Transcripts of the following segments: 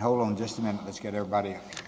Hold on just a minute, let's get everybody up here.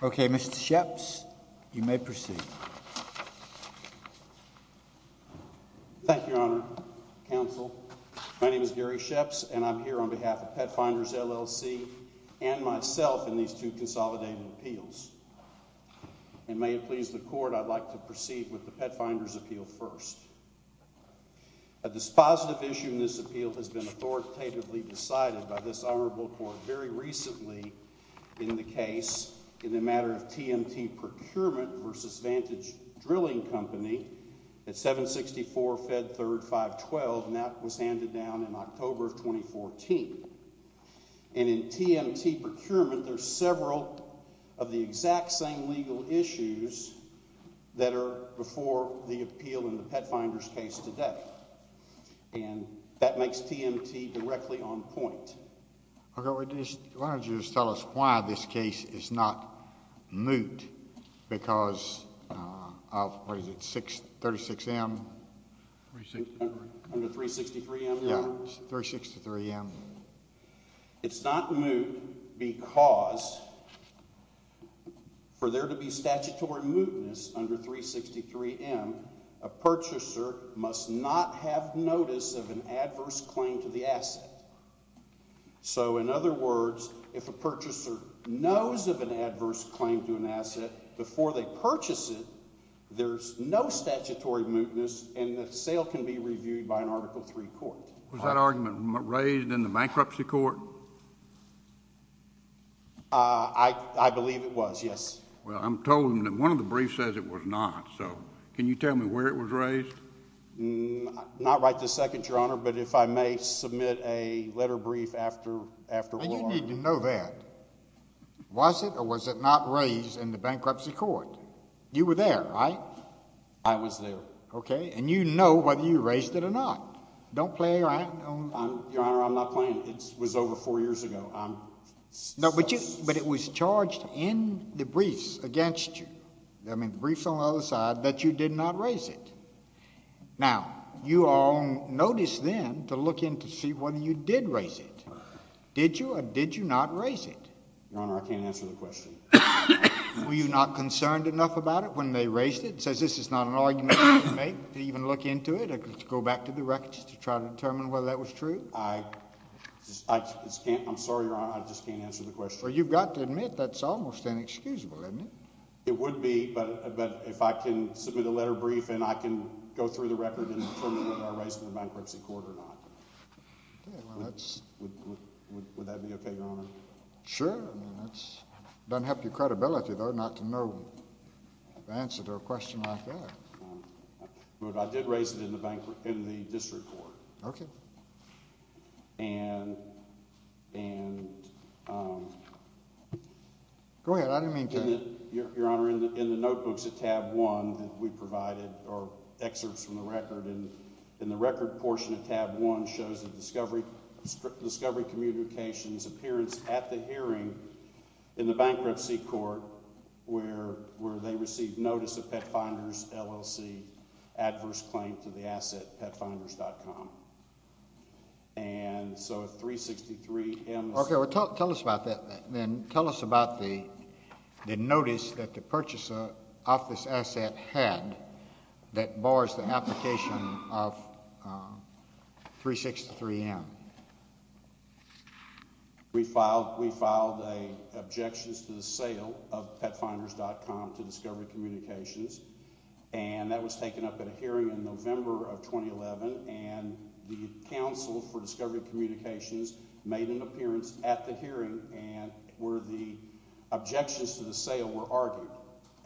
Okay, Mr. Sheps, you may proceed. Thank you, Your Honor, Counsel. My name is Gary Sheps, and I'm here on behalf of Petfinders, L.L.C., and myself in these two consolidated appeals. And may it please the Court, I'd like to proceed with the Petfinders appeal first. A dispositive issue in this appeal has been authoritatively decided by this Honorable Court very recently in the case in the matter of TMT Procurement v. Vantage Drilling Company at 764 Fed 3rd 512, and that was handed down in October of 2014. And in TMT Procurement, there's several of the exact same legal issues that are before the appeal in the Petfinders case today. And that makes TMT directly on point. Okay, why don't you just tell us why this case is not moot because of, what is it, 36M? Under 363M, Your Honor? Yeah, 363M. It's not moot because for there to be statutory mootness under 363M, a purchaser must not have notice of an adverse claim to the asset. So in other words, if a purchaser knows of an adverse claim to an asset before they purchase it, there's no statutory mootness, and the sale can be reviewed by an Article III court. Was that argument raised in the bankruptcy court? I believe it was, yes. Well, I'm told that one of the briefs says it was not. So can you tell me where it was raised? Not right this second, Your Honor, but if I may submit a letter brief after war. You need to know that. Was it or was it not raised in the bankruptcy court? You were there, right? I was there. Okay, and you know whether you raised it or not. Don't play around. Your Honor, I'm not playing. It was over four years ago. No, but it was charged in the briefs against you, I mean the briefs on the other side, that you did not raise it. Now, you are on notice then to look in to see whether you did raise it. Did you or did you not raise it? Your Honor, I can't answer the question. Were you not concerned enough about it when they raised it? It says this is not an argument you can make to even look into it. Go back to the records to try to determine whether that was true. I'm sorry, Your Honor, I just can't answer the question. Well, you've got to admit that's almost inexcusable, haven't you? It would be, but if I can submit a letter brief and I can go through the record and determine whether I raised it in the bankruptcy court or not. Would that be okay, Your Honor? Sure. It doesn't help your credibility, though, not to know the answer to a question like that. But I did raise it in the district court. Okay. And, um... Go ahead. I didn't mean to... in the bankruptcy court where they received notice of Pet Finders LLC adverse claim to the asset PetFinders.com. And so 363M... Okay, well, tell us about that then. Tell us about the notice that the purchaser of this asset had that bars the application of 363M. We filed an objections to the sale of PetFinders.com to Discovery Communications. And that was taken up at a hearing in November of 2011. And the counsel for Discovery Communications made an appearance at the hearing where the objections to the sale were argued.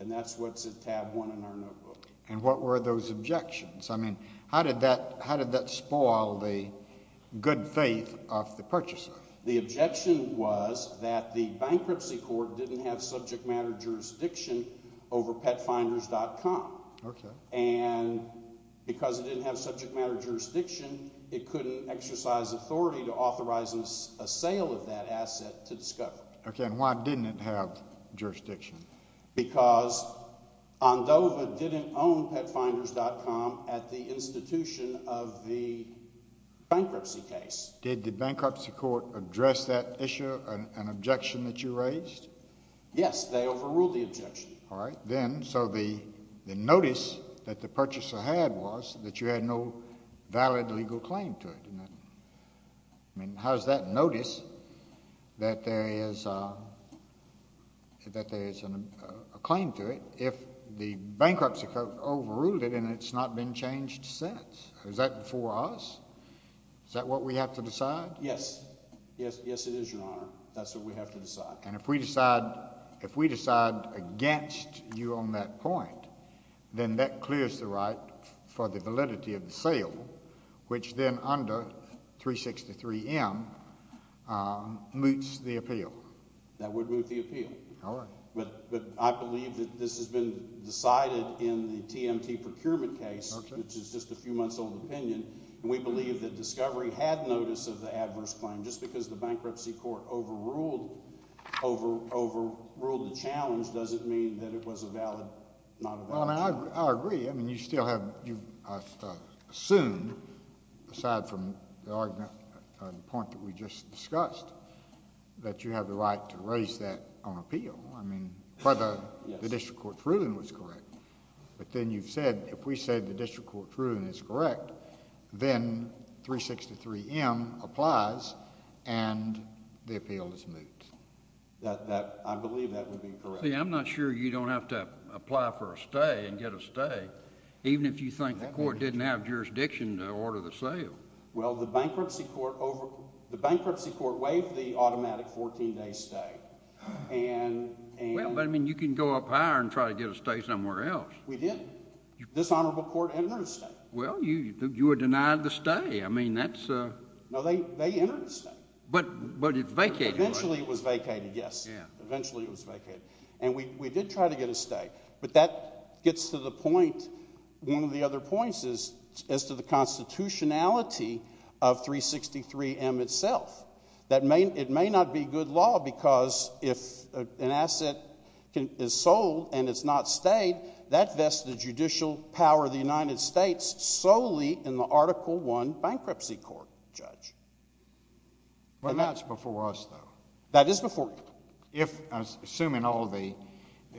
And that's what's at tab one in our notebook. And what were those objections? I mean, how did that spoil the good faith of the purchaser? The objection was that the bankruptcy court didn't have subject matter jurisdiction over PetFinders.com. Okay. And because it didn't have subject matter jurisdiction, it couldn't exercise authority to authorize a sale of that asset to Discovery. Okay, and why didn't it have jurisdiction? Because Andova didn't own PetFinders.com at the institution of the bankruptcy case. Did the bankruptcy court address that issue, an objection that you raised? Yes, they overruled the objection. All right. Then, so the notice that the purchaser had was that you had no valid legal claim to it. I mean, how does that notice that there is a claim to it if the bankruptcy court overruled it and it's not been changed since? Is that before us? Is that what we have to decide? Yes, it is, Your Honor. That's what we have to decide. And if we decide against you on that point, then that clears the right for the validity of the sale, which then under 363M, moots the appeal. That would moot the appeal. All right. But I believe that this has been decided in the TMT procurement case, which is just a few months old opinion, and we believe that Discovery had notice of the adverse claim. Just because the bankruptcy court overruled the challenge doesn't mean that it was a valid not objection. I agree. I mean, you still have assumed, aside from the point that we just discussed, that you have the right to raise that on appeal. I mean, whether the district court's ruling was correct. But then you've said, if we said the district court's ruling is correct, then 363M applies and the appeal is moot. I believe that would be correct. See, I'm not sure you don't have to apply for a stay and get a stay, even if you think the court didn't have jurisdiction to order the sale. Well, the bankruptcy court waived the automatic 14-day stay. Well, but, I mean, you can go up higher and try to get a stay somewhere else. We did. This honorable court entered a stay. Well, you were denied the stay. I mean, that's ‑‑ No, they entered a stay. But it vacated. Eventually it was vacated, yes. Eventually it was vacated. And we did try to get a stay. But that gets to the point, one of the other points, as to the constitutionality of 363M itself. It may not be good law, because if an asset is sold and it's not stayed, that vests the judicial power of the United States solely in the Article I bankruptcy court, Judge. But that's before us, though. That is before you. If, assuming all the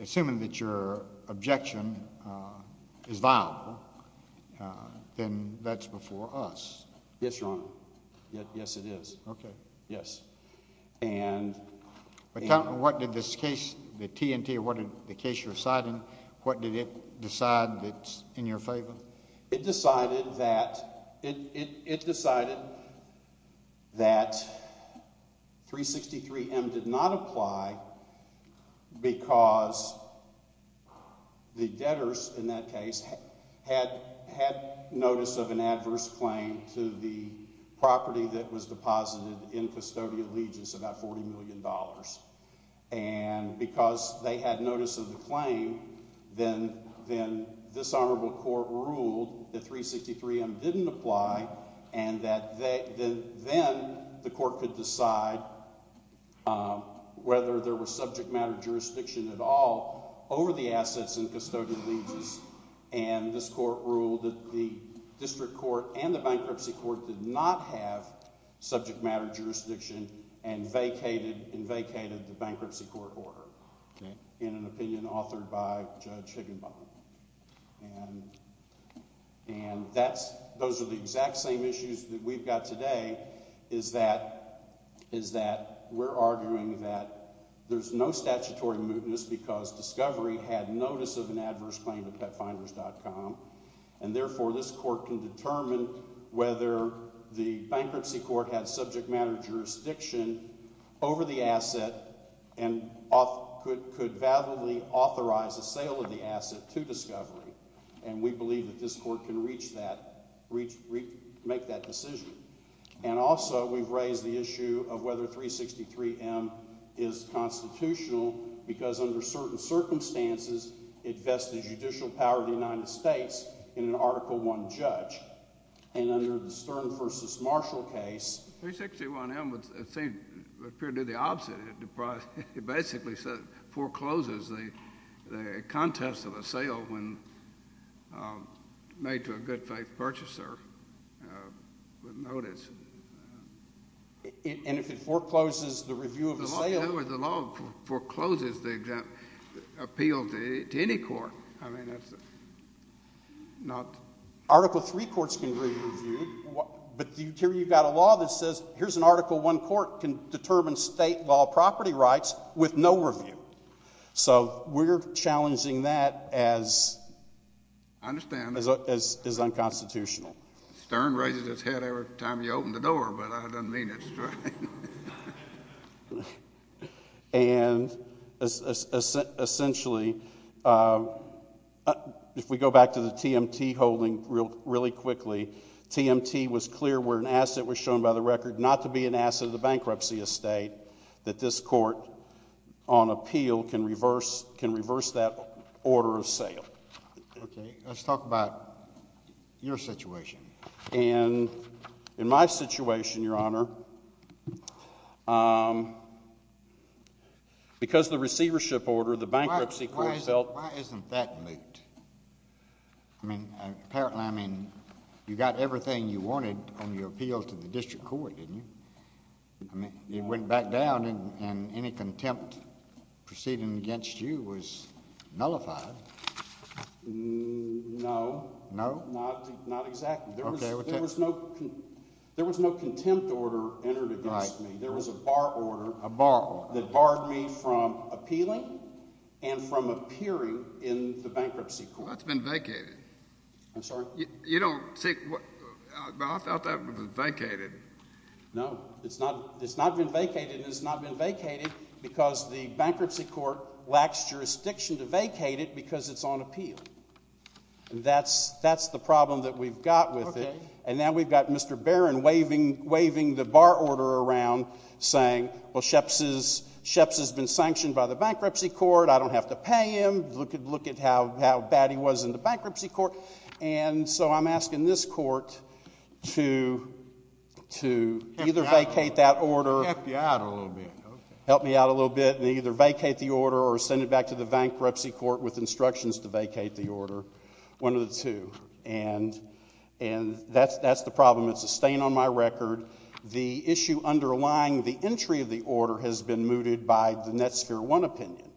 ‑‑ assuming that your objection is viable, then that's before us. Yes, Your Honor. Yes, it is. Okay. Yes. And ‑‑ What did this case, the TNT, the case you're citing, what did it decide that's in your favor? It decided that 363M did not apply because the debtors in that case had notice of an adverse claim to the property that was deposited in Custodial Allegiance, about $40 million. And because they had notice of the claim, then this honorable court ruled that 363M didn't apply and that then the court could decide whether there was subject matter jurisdiction at all over the assets in Custodial Allegiance. And this court ruled that the district court and the bankruptcy court did not have subject matter jurisdiction and vacated the bankruptcy court order in an opinion authored by Judge Higginbotham. And that's ‑‑ those are the exact same issues that we've got today is that we're arguing that there's no statutory mootness because Discovery had notice of an adverse claim to PetFinders.com. And therefore, this court can determine whether the bankruptcy court had subject matter jurisdiction over the asset and could validly authorize a sale of the asset to Discovery. And we believe that this court can reach that, make that decision. And also, we've raised the issue of whether 363M is constitutional because under certain circumstances, it vests the judicial power of the United States in an Article I judge. And under the Stern v. Marshall case ‑‑ 363M would appear to do the opposite. It basically forecloses the contest of a sale when made to a good faith purchaser with notice. And if it forecloses the review of the sale ‑‑ In other words, the law forecloses the appeal to any court. I mean, that's not ‑‑ Article III courts can review, but here you've got a law that says here's an Article I court can determine state law property rights with no review. So we're challenging that as ‑‑ I understand. As unconstitutional. Stern raises his head every time you open the door, but I don't mean it. And essentially, if we go back to the TMT holding really quickly, TMT was clear where an asset was shown by the record not to be an asset of the bankruptcy estate that this court on appeal can reverse that order of sale. Okay. Let's talk about your situation. And in my situation, Your Honor, because the receivership order, the bankruptcy court felt ‑‑ Why isn't that moot? I mean, apparently, I mean, you got everything you wanted on your appeal to the district court, didn't you? I mean, it went back down, and any contempt proceeding against you was nullified. No. No? Not exactly. Okay. There was no contempt order entered against me. Right. There was a bar order. A bar order. That barred me from appealing and from appearing in the bankruptcy court. That's been vacated. I'm sorry? You don't think ‑‑ I thought that was vacated. No. It's not been vacated, and it's not been vacated because the bankruptcy court lacks jurisdiction to vacate it because it's on appeal. That's the problem that we've got with it. Okay. And now we've got Mr. Barron waving the bar order around, saying, well, Sheps has been sanctioned by the bankruptcy court. I don't have to pay him. Look at how bad he was in the bankruptcy court. And so I'm asking this court to either vacate that order. Help you out a little bit. Okay. Help me out a little bit and either vacate the order or send it back to the bankruptcy court with instructions to vacate the order. One of the two. And that's the problem. It's a stain on my record. The issue underlying the entry of the order has been mooted by the Netsphere One opinion,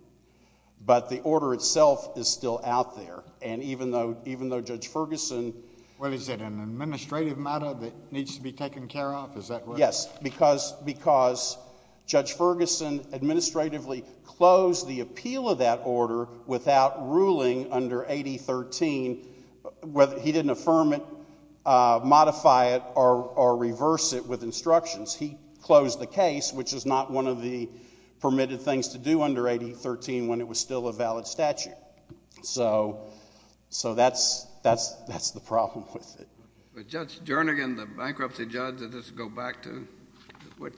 but the order itself is still out there. And even though Judge Ferguson ‑‑ Well, is it an administrative matter that needs to be taken care of? Is that right? Yes. Because Judge Ferguson administratively closed the appeal of that order without ruling under 8013, whether he didn't affirm it, modify it, or reverse it with instructions. He closed the case, which is not one of the permitted things to do under 8013 when it was still a valid statute. So that's the problem with it. But Judge Jernigan, the bankruptcy judge, did this go back to when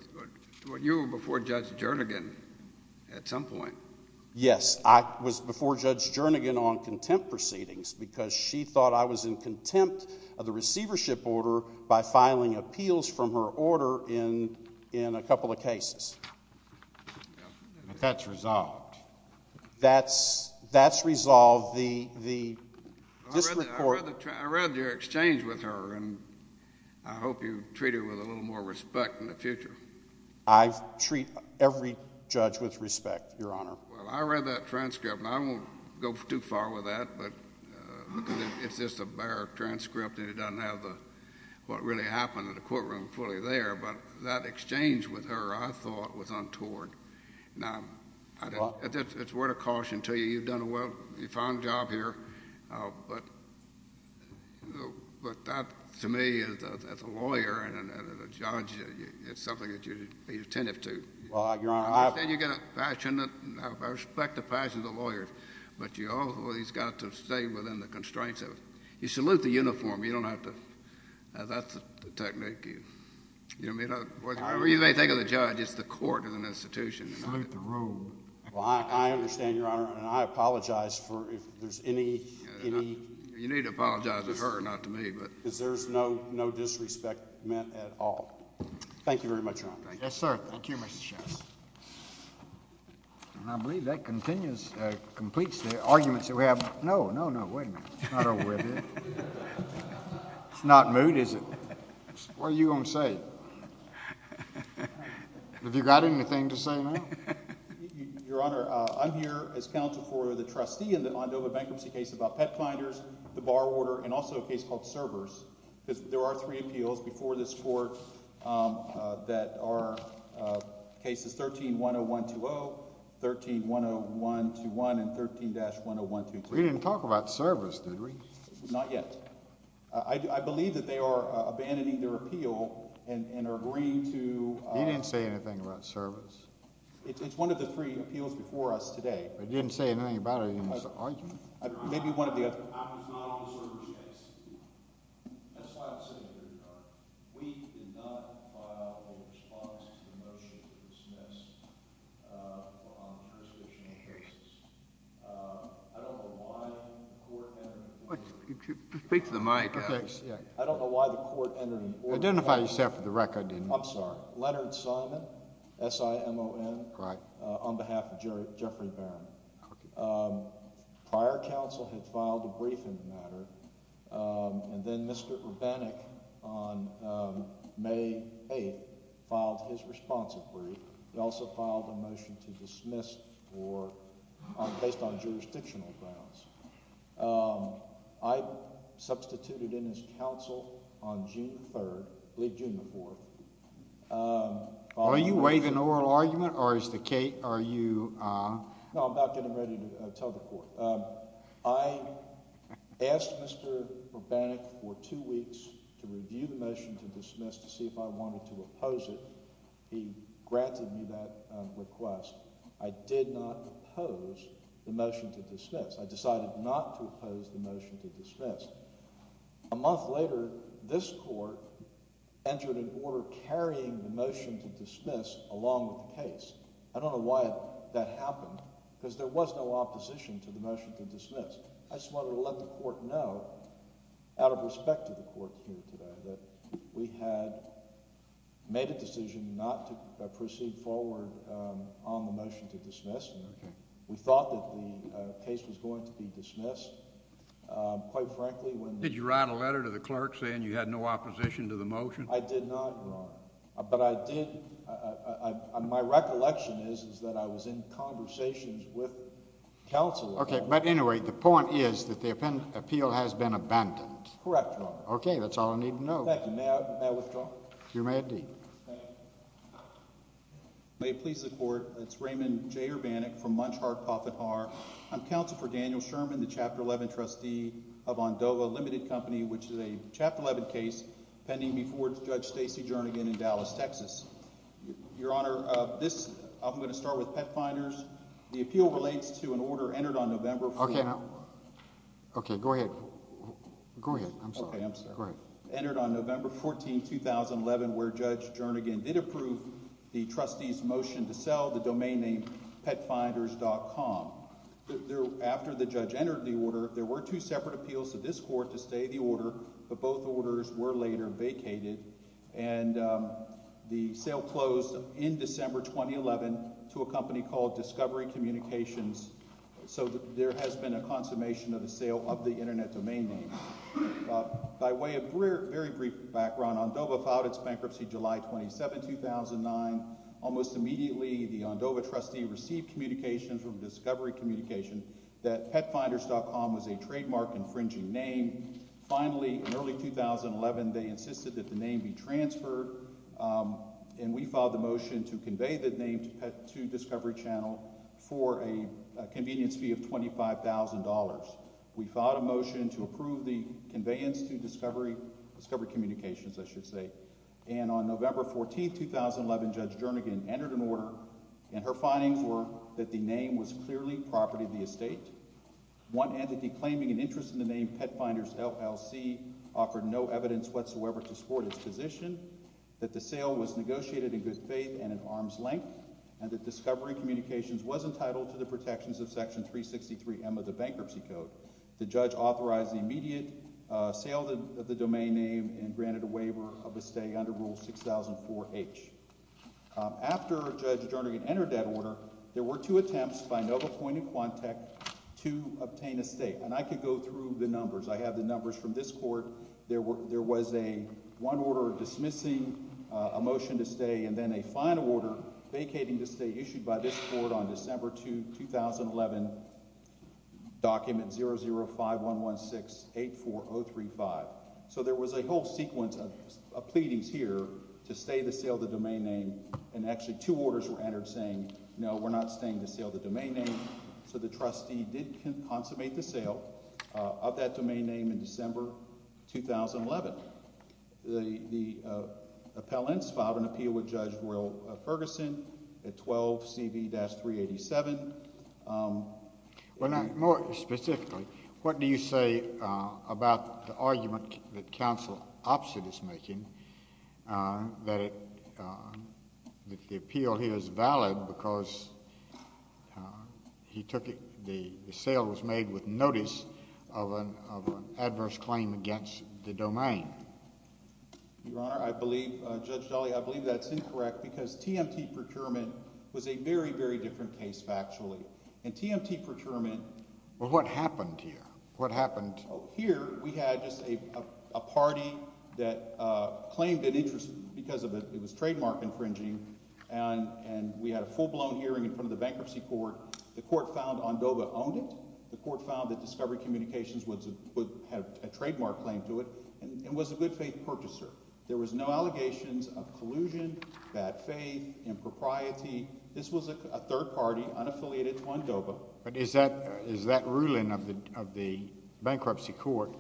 you were before Judge Jernigan at some point? Yes. I was before Judge Jernigan on contempt proceedings because she thought I was in contempt of the receivership order by filing appeals from her order in a couple of cases. But that's resolved. That's resolved. I read your exchange with her, and I hope you treat her with a little more respect in the future. I treat every judge with respect, Your Honor. Well, I read that transcript, and I won't go too far with that because it's just a bare transcript, and it doesn't have what really happened in the courtroom fully there. But that exchange with her, I thought, was untoward. It's a word of caution to you. You've done a fine job here, but that, to me, as a lawyer and a judge, it's something that you should be attentive to. I respect the passion of the lawyers, but you always got to stay within the constraints of it. You salute the uniform. You don't have to. That's the technique. Whatever you may think of the judge, it's the court as an institution. Salute the rule. Well, I understand, Your Honor, and I apologize for if there's any— You need to apologize to her, not to me. Because there's no disrespect meant at all. Thank you very much, Your Honor. Yes, sir. Thank you, Mr. Chess. And I believe that completes the arguments that we have. No, no, no. Wait a minute. It's not over with. It's not moot, is it? What are you going to say? Have you got anything to say now? Your Honor, I'm here as counsel for the trustee in the London bankruptcy case about pet finders, the bar order, and also a case called servers. There are three appeals before this court that are cases 13-10120, 13-10121, and 13-10122. We didn't talk about servers, did we? Not yet. I believe that they are abandoning their appeal and are agreeing to— He didn't say anything about servers. It's one of the three appeals before us today. He didn't say anything about it in his argument. Maybe one or the other. I was not on the servers case. That's why I'm sitting here, Your Honor. We did not file a response to the motion to dismiss on the jurisdiction of Harris. I don't know why the court— Speak to the mic. I don't know why the court entered an order— Identify yourself for the record. I'm sorry. Leonard Simon, S-I-M-O-N, on behalf of Jeffrey Barron. Prior counsel had filed a brief in the matter, and then Mr. Urbanik on May 8th filed his responsive brief. He also filed a motion to dismiss based on jurisdictional grounds. I substituted in his counsel on June 3rd—I believe June 4th— Are you waiving an oral argument, or is the case—are you— No, I'm about getting ready to tell the court. I asked Mr. Urbanik for two weeks to review the motion to dismiss to see if I wanted to oppose it. He granted me that request. I did not oppose the motion to dismiss. I decided not to oppose the motion to dismiss. A month later, this court entered an order carrying the motion to dismiss along with the case. I don't know why that happened, because there was no opposition to the motion to dismiss. I just wanted to let the court know, out of respect to the court here today, that we had made a decision not to proceed forward on the motion to dismiss. We thought that the case was going to be dismissed. Quite frankly, when— Did you write a letter to the clerk saying you had no opposition to the motion? I did not write. But I did—my recollection is that I was in conversations with counsel. Okay, but anyway, the point is that the appeal has been abandoned. Correct, Your Honor. Okay, that's all I need to know. Thank you. May I withdraw? You may indeed. Thank you. May it please the Court, it's Raymond J. Urbanik from Munch, Hart, Poffitt, Harr. I'm Counsel for Daniel Sherman, the Chapter 11 trustee of Ondova Limited Company, which is a Chapter 11 case pending before Judge Stacy Jernigan in Dallas, Texas. Your Honor, this—I'm going to start with pet finders. The appeal relates to an order entered on November— Okay. Okay, go ahead. Go ahead. I'm sorry. Okay, I'm sorry. Go ahead. Entered on November 14, 2011, where Judge Jernigan did approve the trustee's motion to sell the domain name PetFinders.com. After the judge entered the order, there were two separate appeals to this Court to stay the order, but both orders were later vacated. And the sale closed in December 2011 to a company called Discovery Communications, so there has been a consummation of the sale of the internet domain name. By way of very brief background, Ondova filed its bankruptcy July 27, 2009. Almost immediately, the Ondova trustee received communications from Discovery Communications that PetFinders.com was a trademark infringing name. Finally, in early 2011, they insisted that the name be transferred, and we filed a motion to convey the name to Discovery Channel for a convenience fee of $25,000. We filed a motion to approve the conveyance to Discovery Communications, I should say. And on November 14, 2011, Judge Jernigan entered an order, and her findings were that the name was clearly property of the estate. One entity claiming an interest in the name PetFinders LLC offered no evidence whatsoever to support its position, that the sale was negotiated in good faith and in arm's length, and that Discovery Communications was entitled to the protections of Section 363M of the Bankruptcy Code. The judge authorized the immediate sale of the domain name and granted a waiver of the estate under Rule 6004H. After Judge Jernigan entered that order, there were two attempts by Nova Point and Quantech to obtain estate. And I could go through the numbers. I have the numbers from this court. There was one order dismissing a motion to stay, and then a final order vacating the estate issued by this court on December 2, 2011, document 00511684035. So there was a whole sequence of pleadings here to stay the sale of the domain name, and actually two orders were entered saying no, we're not staying the sale of the domain name. So the trustee did consummate the sale of that domain name in December 2011. The appellants filed an appeal with Judge Will Ferguson at 12CV-387. Well, now, more specifically, what do you say about the argument that Counsel Oppsitt is making that the appeal here is valid because he took the sale was made with notice of an adverse claim against the domain? Your Honor, I believe – Judge Daly, I believe that's incorrect because TMT Procurement was a very, very different case factually. In TMT Procurement – Well, what happened here? What happened? Here we had just a party that claimed an interest because it was trademark infringing, and we had a full-blown hearing in front of the bankruptcy court. The court found Ondoba owned it. The court found that Discovery Communications had a trademark claim to it and was a good-faith purchaser. There was no allegations of collusion, bad faith, impropriety. This was a third party unaffiliated to Ondoba. But is that ruling of the bankruptcy court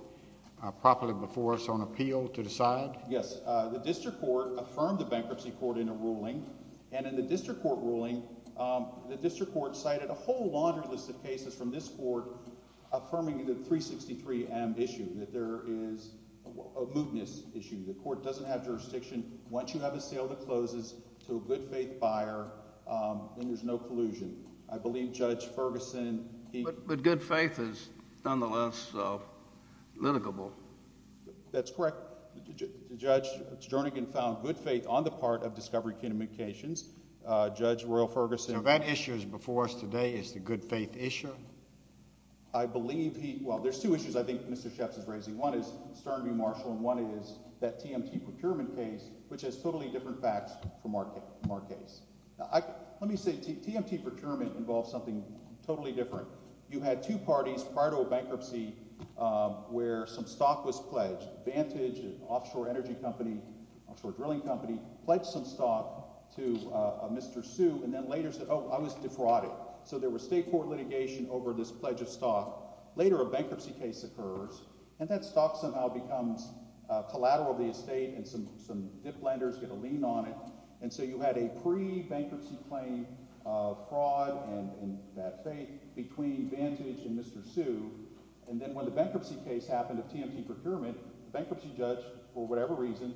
properly before us on appeal to decide? Yes. The district court affirmed the bankruptcy court in a ruling, and in the district court ruling, the district court cited a whole laundry list of cases from this court affirming the 363M issue, that there is a mootness issue. The court doesn't have jurisdiction. Once you have a sale that closes to a good-faith buyer, then there's no collusion. I believe Judge Ferguson – But good faith is nonetheless litigable. That's correct. Judge Jernigan found good faith on the part of Discovery Communications. Judge Royal Ferguson – So that issue before us today is the good-faith issue? I believe he – well, there's two issues I think Mr. Schatz is raising. One is Stern v. Marshall, and one is that TMT procurement case, which has totally different facts from our case. Let me say TMT procurement involves something totally different. You had two parties prior to a bankruptcy where some stock was pledged. Vantage, an offshore energy company, offshore drilling company, pledged some stock to Mr. Su, and then later said, oh, I was defrauded. So there was state court litigation over this pledge of stock. Later a bankruptcy case occurs, and that stock somehow becomes collateral of the estate, and some dip lenders get a lien on it. And so you had a pre-bankruptcy claim of fraud and bad faith between Vantage and Mr. Su, and then when the bankruptcy case happened of TMT procurement, the bankruptcy judge, for whatever reason,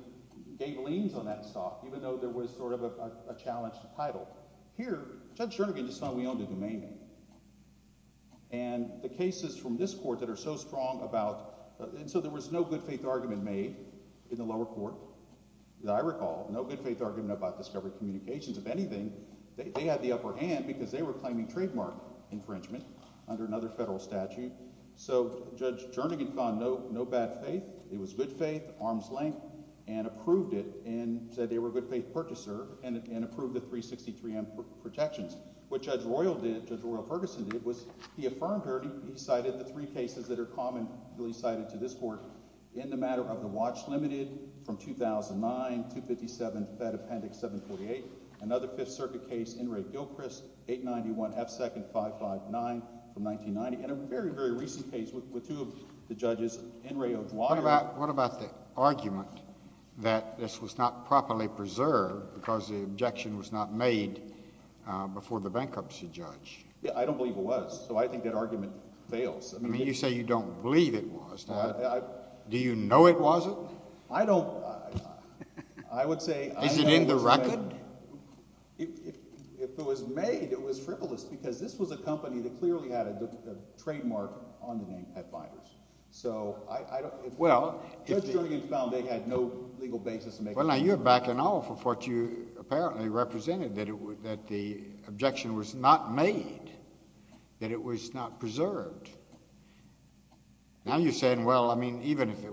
gave liens on that stock, even though there was sort of a challenged title. Here, Judge Jernigan just thought we owned a domain name. And the cases from this court that are so strong about – and so there was no good-faith argument made in the lower court that I recall, no good-faith argument about discovery communications. If anything, they had the upper hand because they were claiming trademark infringement under another federal statute. So Judge Jernigan found no bad faith. It was good faith, arm's length, and approved it and said they were a good-faith purchaser and approved the 363M protections. What Judge Royal did, Judge Royal Ferguson did, was he affirmed her. He cited the three cases that are commonly cited to this court in the matter of the watch limited from 2009, 257, Fed Appendix 748, another Fifth Circuit case, N. Ray Gilchrist, 891, F. 2nd, 559 from 1990, and a very, very recent case with two of the judges, N. Ray O'Dwyer. What about the argument that this was not properly preserved because the objection was not made before the bankruptcy judge? I don't believe it was. So I think that argument fails. You say you don't believe it was. Do you know it wasn't? I don't – I would say – Is it in the record? If it was made, it was frivolous because this was a company that clearly had a trademark on the name Pet Fighters. So I don't – Well, if the – Judge Jernigan found they had no legal basis to make – Well, now, you're backing off of what you apparently represented, that the objection was not made, that it was not preserved. Now you're saying, well, I mean, even if the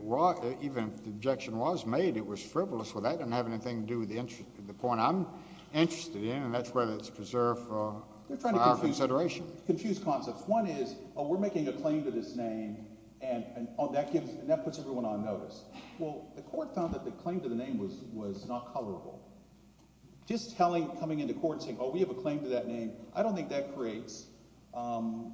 objection was made, it was frivolous. Well, that doesn't have anything to do with the point I'm interested in, and that's whether it's preserved for our consideration. You're trying to confuse concepts. One is, oh, we're making a claim to this name, and that puts everyone on notice. Well, the court found that the claim to the name was not colorable. Just telling – coming into court and saying, oh, we have a claim to that name, I don't think that creates some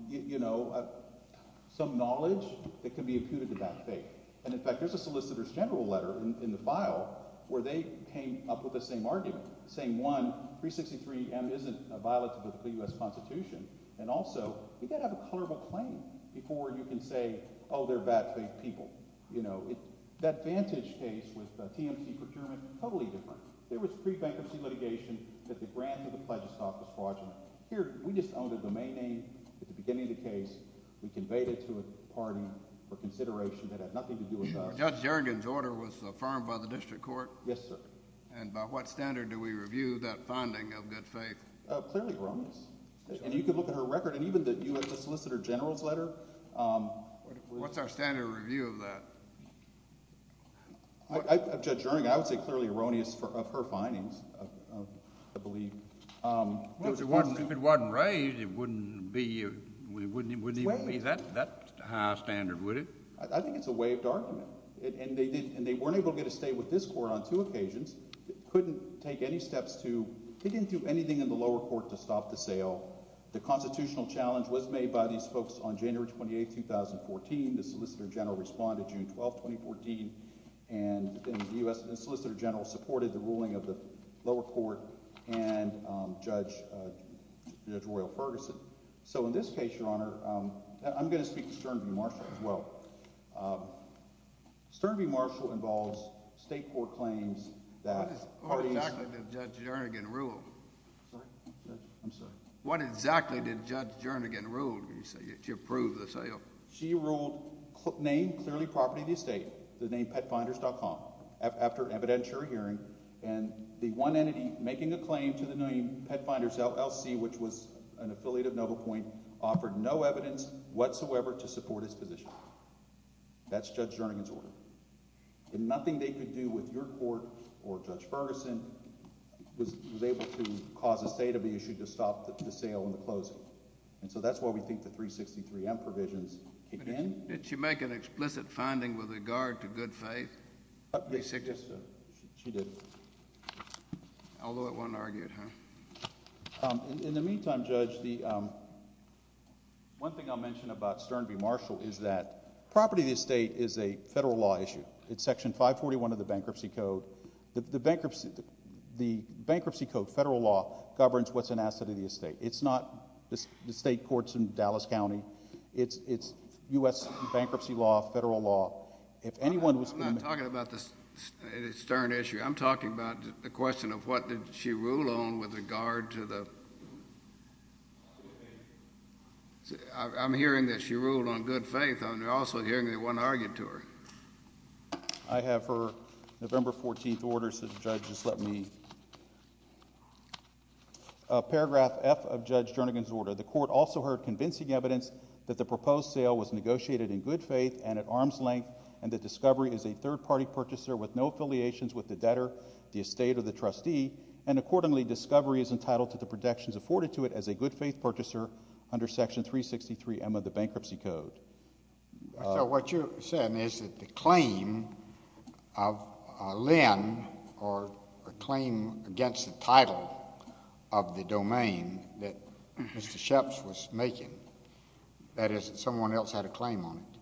knowledge that can be imputed to bad faith. And, in fact, there's a solicitor's general letter in the file where they came up with the same argument, saying, one, 363M isn't a violation of the U.S. Constitution, and also you've got to have a colorable claim before you can say, oh, they're bad faith people. And, you know, that Vantage case with TMC procurement, totally different. There was pre-bankruptcy litigation that the grant of the pledge of stock was fraudulent. Here we just owned a domain name at the beginning of the case. We conveyed it to a party for consideration that had nothing to do with us. Judge Juergen's order was affirmed by the district court. Yes, sir. And by what standard do we review that finding of good faith? Clearly wrongness. And you could look at her record, and even the U.S. Solicitor General's letter. What's our standard review of that? Of Judge Juergen, I would say clearly erroneous of her findings, I believe. Well, if it wasn't raised, it wouldn't be – it wouldn't even be that high a standard, would it? I think it's a waived argument, and they weren't able to get a state with this court on two occasions. They couldn't take any steps to – they didn't do anything in the lower court to stop the sale. The constitutional challenge was made by these folks on January 28, 2014. The Solicitor General responded June 12, 2014, and the U.S. Solicitor General supported the ruling of the lower court and Judge Royal Ferguson. So in this case, Your Honor, I'm going to speak to Stern v. Marshall as well. Stern v. Marshall involves state court claims that parties – What exactly did Judge Juergen rule? I'm sorry. What exactly did Judge Juergen rule when you say she approved the sale? She ruled name clearly property of the estate, the name PetFinders.com, after evidentiary hearing, and the one entity making a claim to the name PetFinders LLC, which was an affiliate of NovoPoint, offered no evidence whatsoever to support its position. That's Judge Juergen's order. And nothing they could do with your court or Judge Ferguson was able to cause the state of the issue to stop the sale and the closing. And so that's why we think the 363M provisions kick in. Did she make an explicit finding with regard to good faith? Yes, she did. Although it wasn't argued, huh? In the meantime, Judge, one thing I'll mention about Stern v. Marshall is that property of the estate is a federal law issue. It's Section 541 of the Bankruptcy Code. The Bankruptcy Code, federal law, governs what's an asset of the estate. It's not the state courts in Dallas County. It's U.S. bankruptcy law, federal law. I'm not talking about the Stern issue. I'm talking about the question of what did she rule on with regard to the—I'm hearing that she ruled on good faith. I'm also hearing that it wasn't argued to her. I have her November 14th order, so Judge, just let me—paragraph F of Judge Juergen's order. The court also heard convincing evidence that the proposed sale was negotiated in good faith and at arm's length, and that Discovery is a third-party purchaser with no affiliations with the debtor, the estate, or the trustee, and accordingly Discovery is entitled to the protections afforded to it as a good faith purchaser under Section 363M of the Bankruptcy Code. So what you're saying is that the claim of Lynn or a claim against the title of the domain that Mr. Sheps was making, that is, that someone else had a claim on it,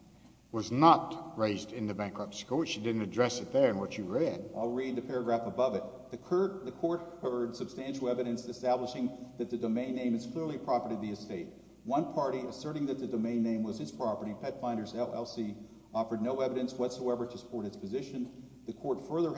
was not raised in the Bankruptcy Code. She didn't address it there in what you read. I'll read the paragraph above it. The court heard substantial evidence establishing that the domain name is clearly a property of the estate. One party asserting that the domain name was its property, PetFinders LLC, offered no evidence whatsoever to support its position. The court further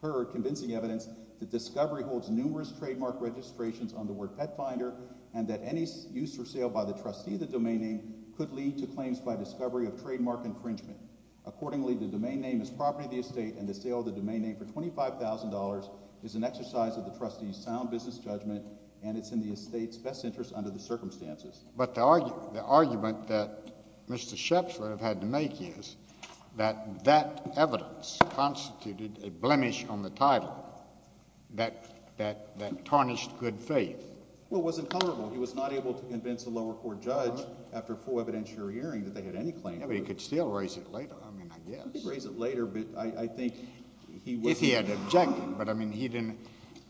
heard convincing evidence that Discovery holds numerous trademark registrations on the word PetFinder and that any use or sale by the trustee of the domain name could lead to claims by Discovery of trademark infringement. Accordingly, the domain name is property of the estate, and the sale of the domain name for $25,000 is an exercise of the trustee's sound business judgment, and it's in the estate's best interest under the circumstances. But the argument that Mr. Sheps would have had to make is that that evidence constituted a blemish on the title that tarnished good faith. Well, it wasn't comparable. He was not able to convince a lower court judge after a full evidentiary hearing that they had any claim. But he could still raise it later, I mean, I guess. He could raise it later, but I think he wasn't—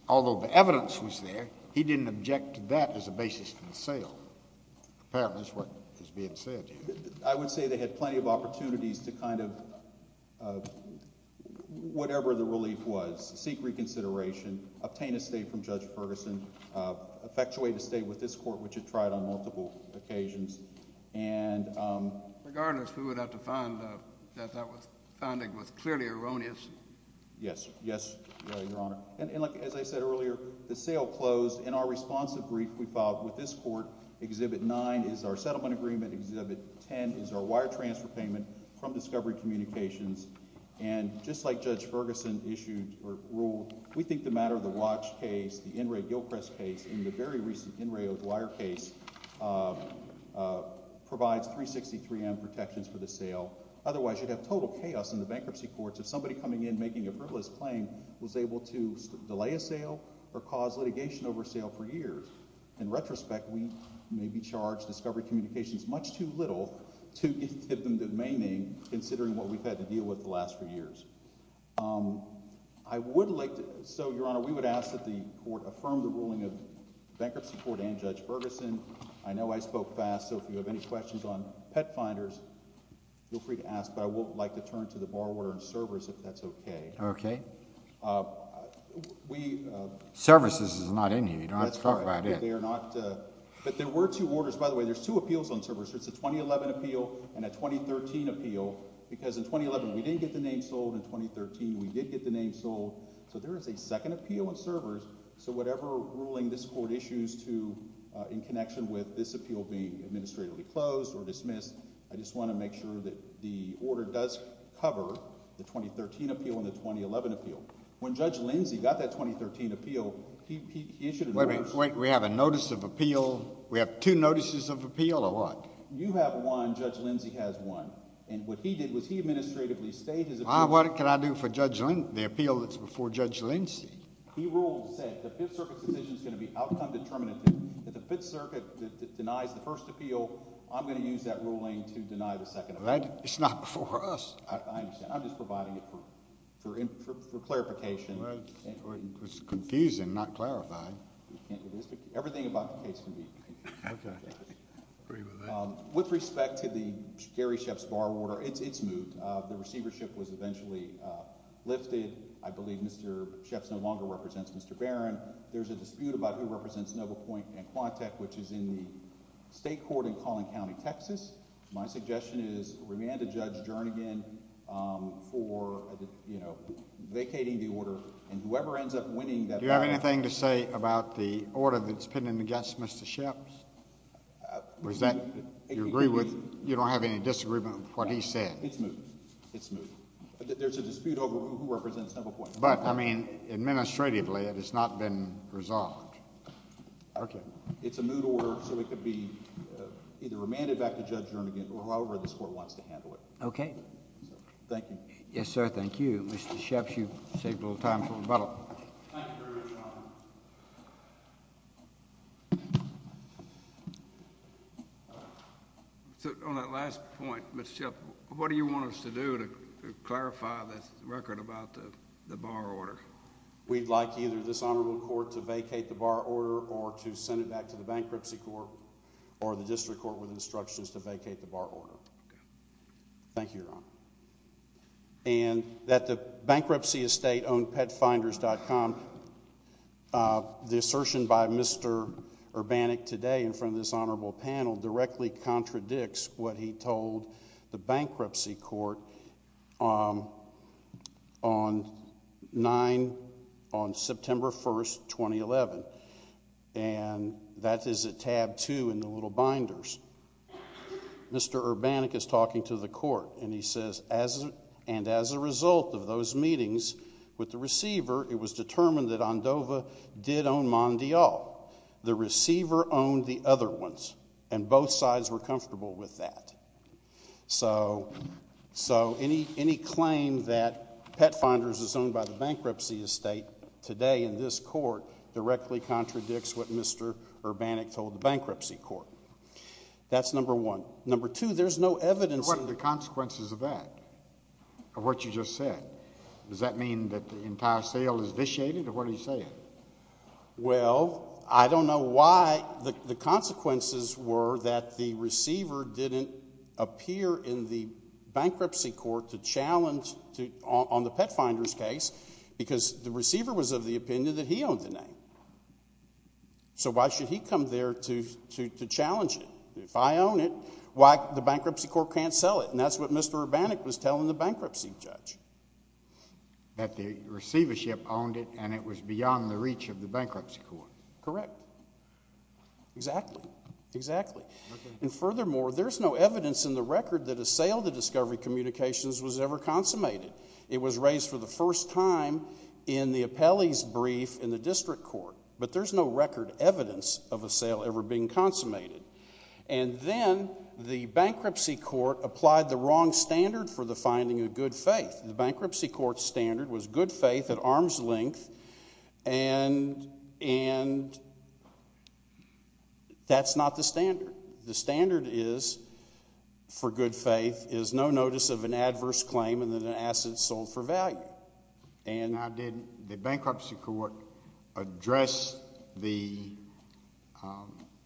Although the evidence was there, he didn't object to that as a basis for the sale. Apparently, that's what is being said here. I would say they had plenty of opportunities to kind of whatever the relief was, seek reconsideration, obtain a state from Judge Ferguson, effectuate a state with this court, which it tried on multiple occasions, and— Regardless, we would have to find that that founding was clearly erroneous. Yes. Yes, Your Honor. And as I said earlier, the sale closed. In our responsive brief we filed with this court, Exhibit 9 is our settlement agreement. Exhibit 10 is our wire transfer payment from Discovery Communications. And just like Judge Ferguson issued or ruled, we think the matter of the Roche case, the In reo Gilchrist case, and the very recent In reo Dwyer case provides 363M protections for the sale. Otherwise, you'd have total chaos in the bankruptcy courts if somebody coming in making a frivolous claim was able to delay a sale or cause litigation over sale for years. In retrospect, we may be charged Discovery Communications much too little to give them the remaining, considering what we've had to deal with the last few years. I would like to—So, Your Honor, we would ask that the court affirm the ruling of Bankruptcy Court and Judge Ferguson. I know I spoke fast, so if you have any questions on pet finders, feel free to ask. But I would like to turn to the bar order on servers, if that's okay. Okay. We— Services is not in here. You don't have to talk about it. They are not—But there were two orders. By the way, there's two appeals on servers. There's a 2011 appeal and a 2013 appeal because in 2011 we didn't get the name sold. In 2013 we did get the name sold. So there is a second appeal on servers. So whatever ruling this court issues to—in connection with this appeal being administratively closed or dismissed, I just want to make sure that the order does cover the 2013 appeal and the 2011 appeal. When Judge Lindsay got that 2013 appeal, he issued an order— Wait a minute. We have a notice of appeal? We have two notices of appeal or what? You have one. Judge Lindsay has one. And what he did was he administratively stayed his appeal. What can I do for Judge—the appeal that's before Judge Lindsay? He rules that the Fifth Circuit's decision is going to be outcome determinative. If the Fifth Circuit denies the first appeal, I'm going to use that ruling to deny the second appeal. It's not before us. I understand. I'm just providing it for clarification. It's confusing not clarifying. Everything about the case can be— Okay. I agree with that. With respect to the Gary Sheff's bar order, it's moved. The receivership was eventually lifted. I believe Mr. Sheff's no longer represents Mr. Barron. There's a dispute about who represents Noble Point and Quantek, which is in the state court in Collin County, Texas. My suggestion is remand to Judge Jernigan for vacating the order. And whoever ends up winning that— Do you have anything to say about the order that's pending against Mr. Sheff's? Do you agree with—you don't have any disagreement with what he said? It's moved. It's moved. There's a dispute over who represents Noble Point. But, I mean, administratively it has not been resolved. Okay. It's a moot order, so it could be either remanded back to Judge Jernigan or however this court wants to handle it. Okay. Thank you. Yes, sir. Thank you. Mr. Sheff, you've saved a little time for rebuttal. Thank you very much, Your Honor. So, on that last point, Mr. Sheff, what do you want us to do to clarify this record about the bar order? We'd like either this honorable court to vacate the bar order or to send it back to the bankruptcy court or the district court with instructions to vacate the bar order. Thank you, Your Honor. And that the bankruptcy estate owned PetFinders.com, the assertion by Mr. Urbanik today in front of this honorable panel directly contradicts what he told the bankruptcy court on 9—on September 1, 2011. And that is at tab 2 in the little binders. Mr. Urbanik is talking to the court, and he says, and as a result of those meetings with the receiver, it was determined that Andova did own Mondial. The receiver owned the other ones, and both sides were comfortable with that. So, any claim that PetFinders is owned by the bankruptcy estate today in this court directly contradicts what Mr. Urbanik told the bankruptcy court. That's number one. Number two, there's no evidence— And what are the consequences of that, of what you just said? Does that mean that the entire sale is vitiated, or what are you saying? Well, I don't know why the consequences were that the receiver didn't appear in the bankruptcy court to challenge—on the PetFinders case, because the receiver was of the opinion that he owned the name. So why should he come there to challenge it? If I own it, why—the bankruptcy court can't sell it. And that's what Mr. Urbanik was telling the bankruptcy judge. That the receivership owned it, and it was beyond the reach of the bankruptcy court. Correct. Exactly. Exactly. And furthermore, there's no evidence in the record that a sale to Discovery Communications was ever consummated. It was raised for the first time in the appellee's brief in the district court. But there's no record evidence of a sale ever being consummated. And then the bankruptcy court applied the wrong standard for the finding of good faith. The bankruptcy court's standard was good faith at arm's length, and that's not the standard. The standard is, for good faith, is no notice of an adverse claim and that an asset sold for value. Now, did the bankruptcy court address the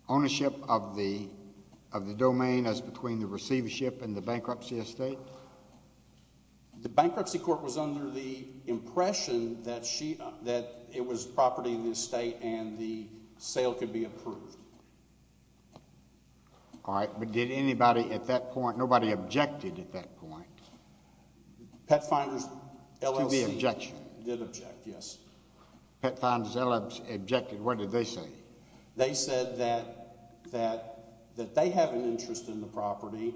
ownership of the domain as between the receivership and the bankruptcy estate? The bankruptcy court was under the impression that it was property of the estate and the sale could be approved. All right, but did anybody at that point, nobody objected at that point? PetFinders, LLC. There should be an objection. Did object, yes. PetFinders, LLC, objected. What did they say? They said that they have an interest in the property,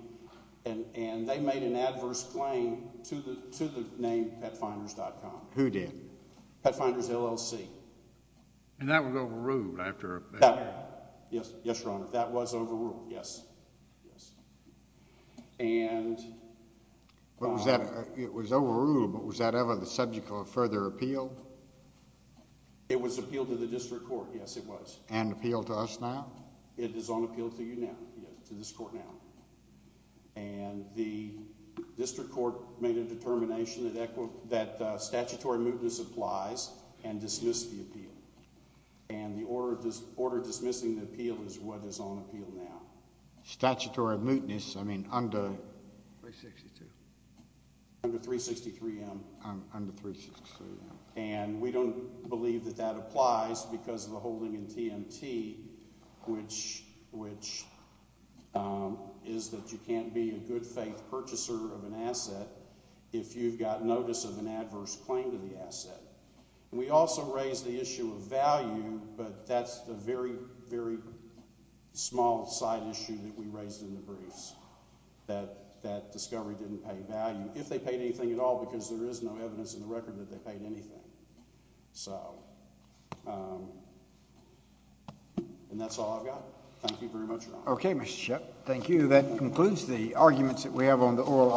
and they made an adverse claim to the name PetFinders.com. Who did? PetFinders, LLC. And that was overruled after? Yes, Your Honor, that was overruled, yes. And? It was overruled, but was that ever the subject of further appeal? It was appealed to the district court, yes, it was. And appealed to us now? It is on appeal to you now, to this court now. And the district court made a determination that statutory mootness applies and dismissed the appeal. And the order dismissing the appeal is what is on appeal now. Statutory mootness, I mean under? 362. Under 363M. Under 363M. And we don't believe that that applies because of the holding in TMT, which is that you can't be a good faith purchaser of an asset if you've got notice of an adverse claim to the asset. And we also raised the issue of value, but that's the very, very small side issue that we raised in the briefs, that that discovery didn't pay value. If they paid anything at all, because there is no evidence in the record that they paid anything. So, and that's all I've got. Thank you very much, Your Honor. Okay, Mr. Shipp. Thank you. That concludes the arguments that we have on the oral argument.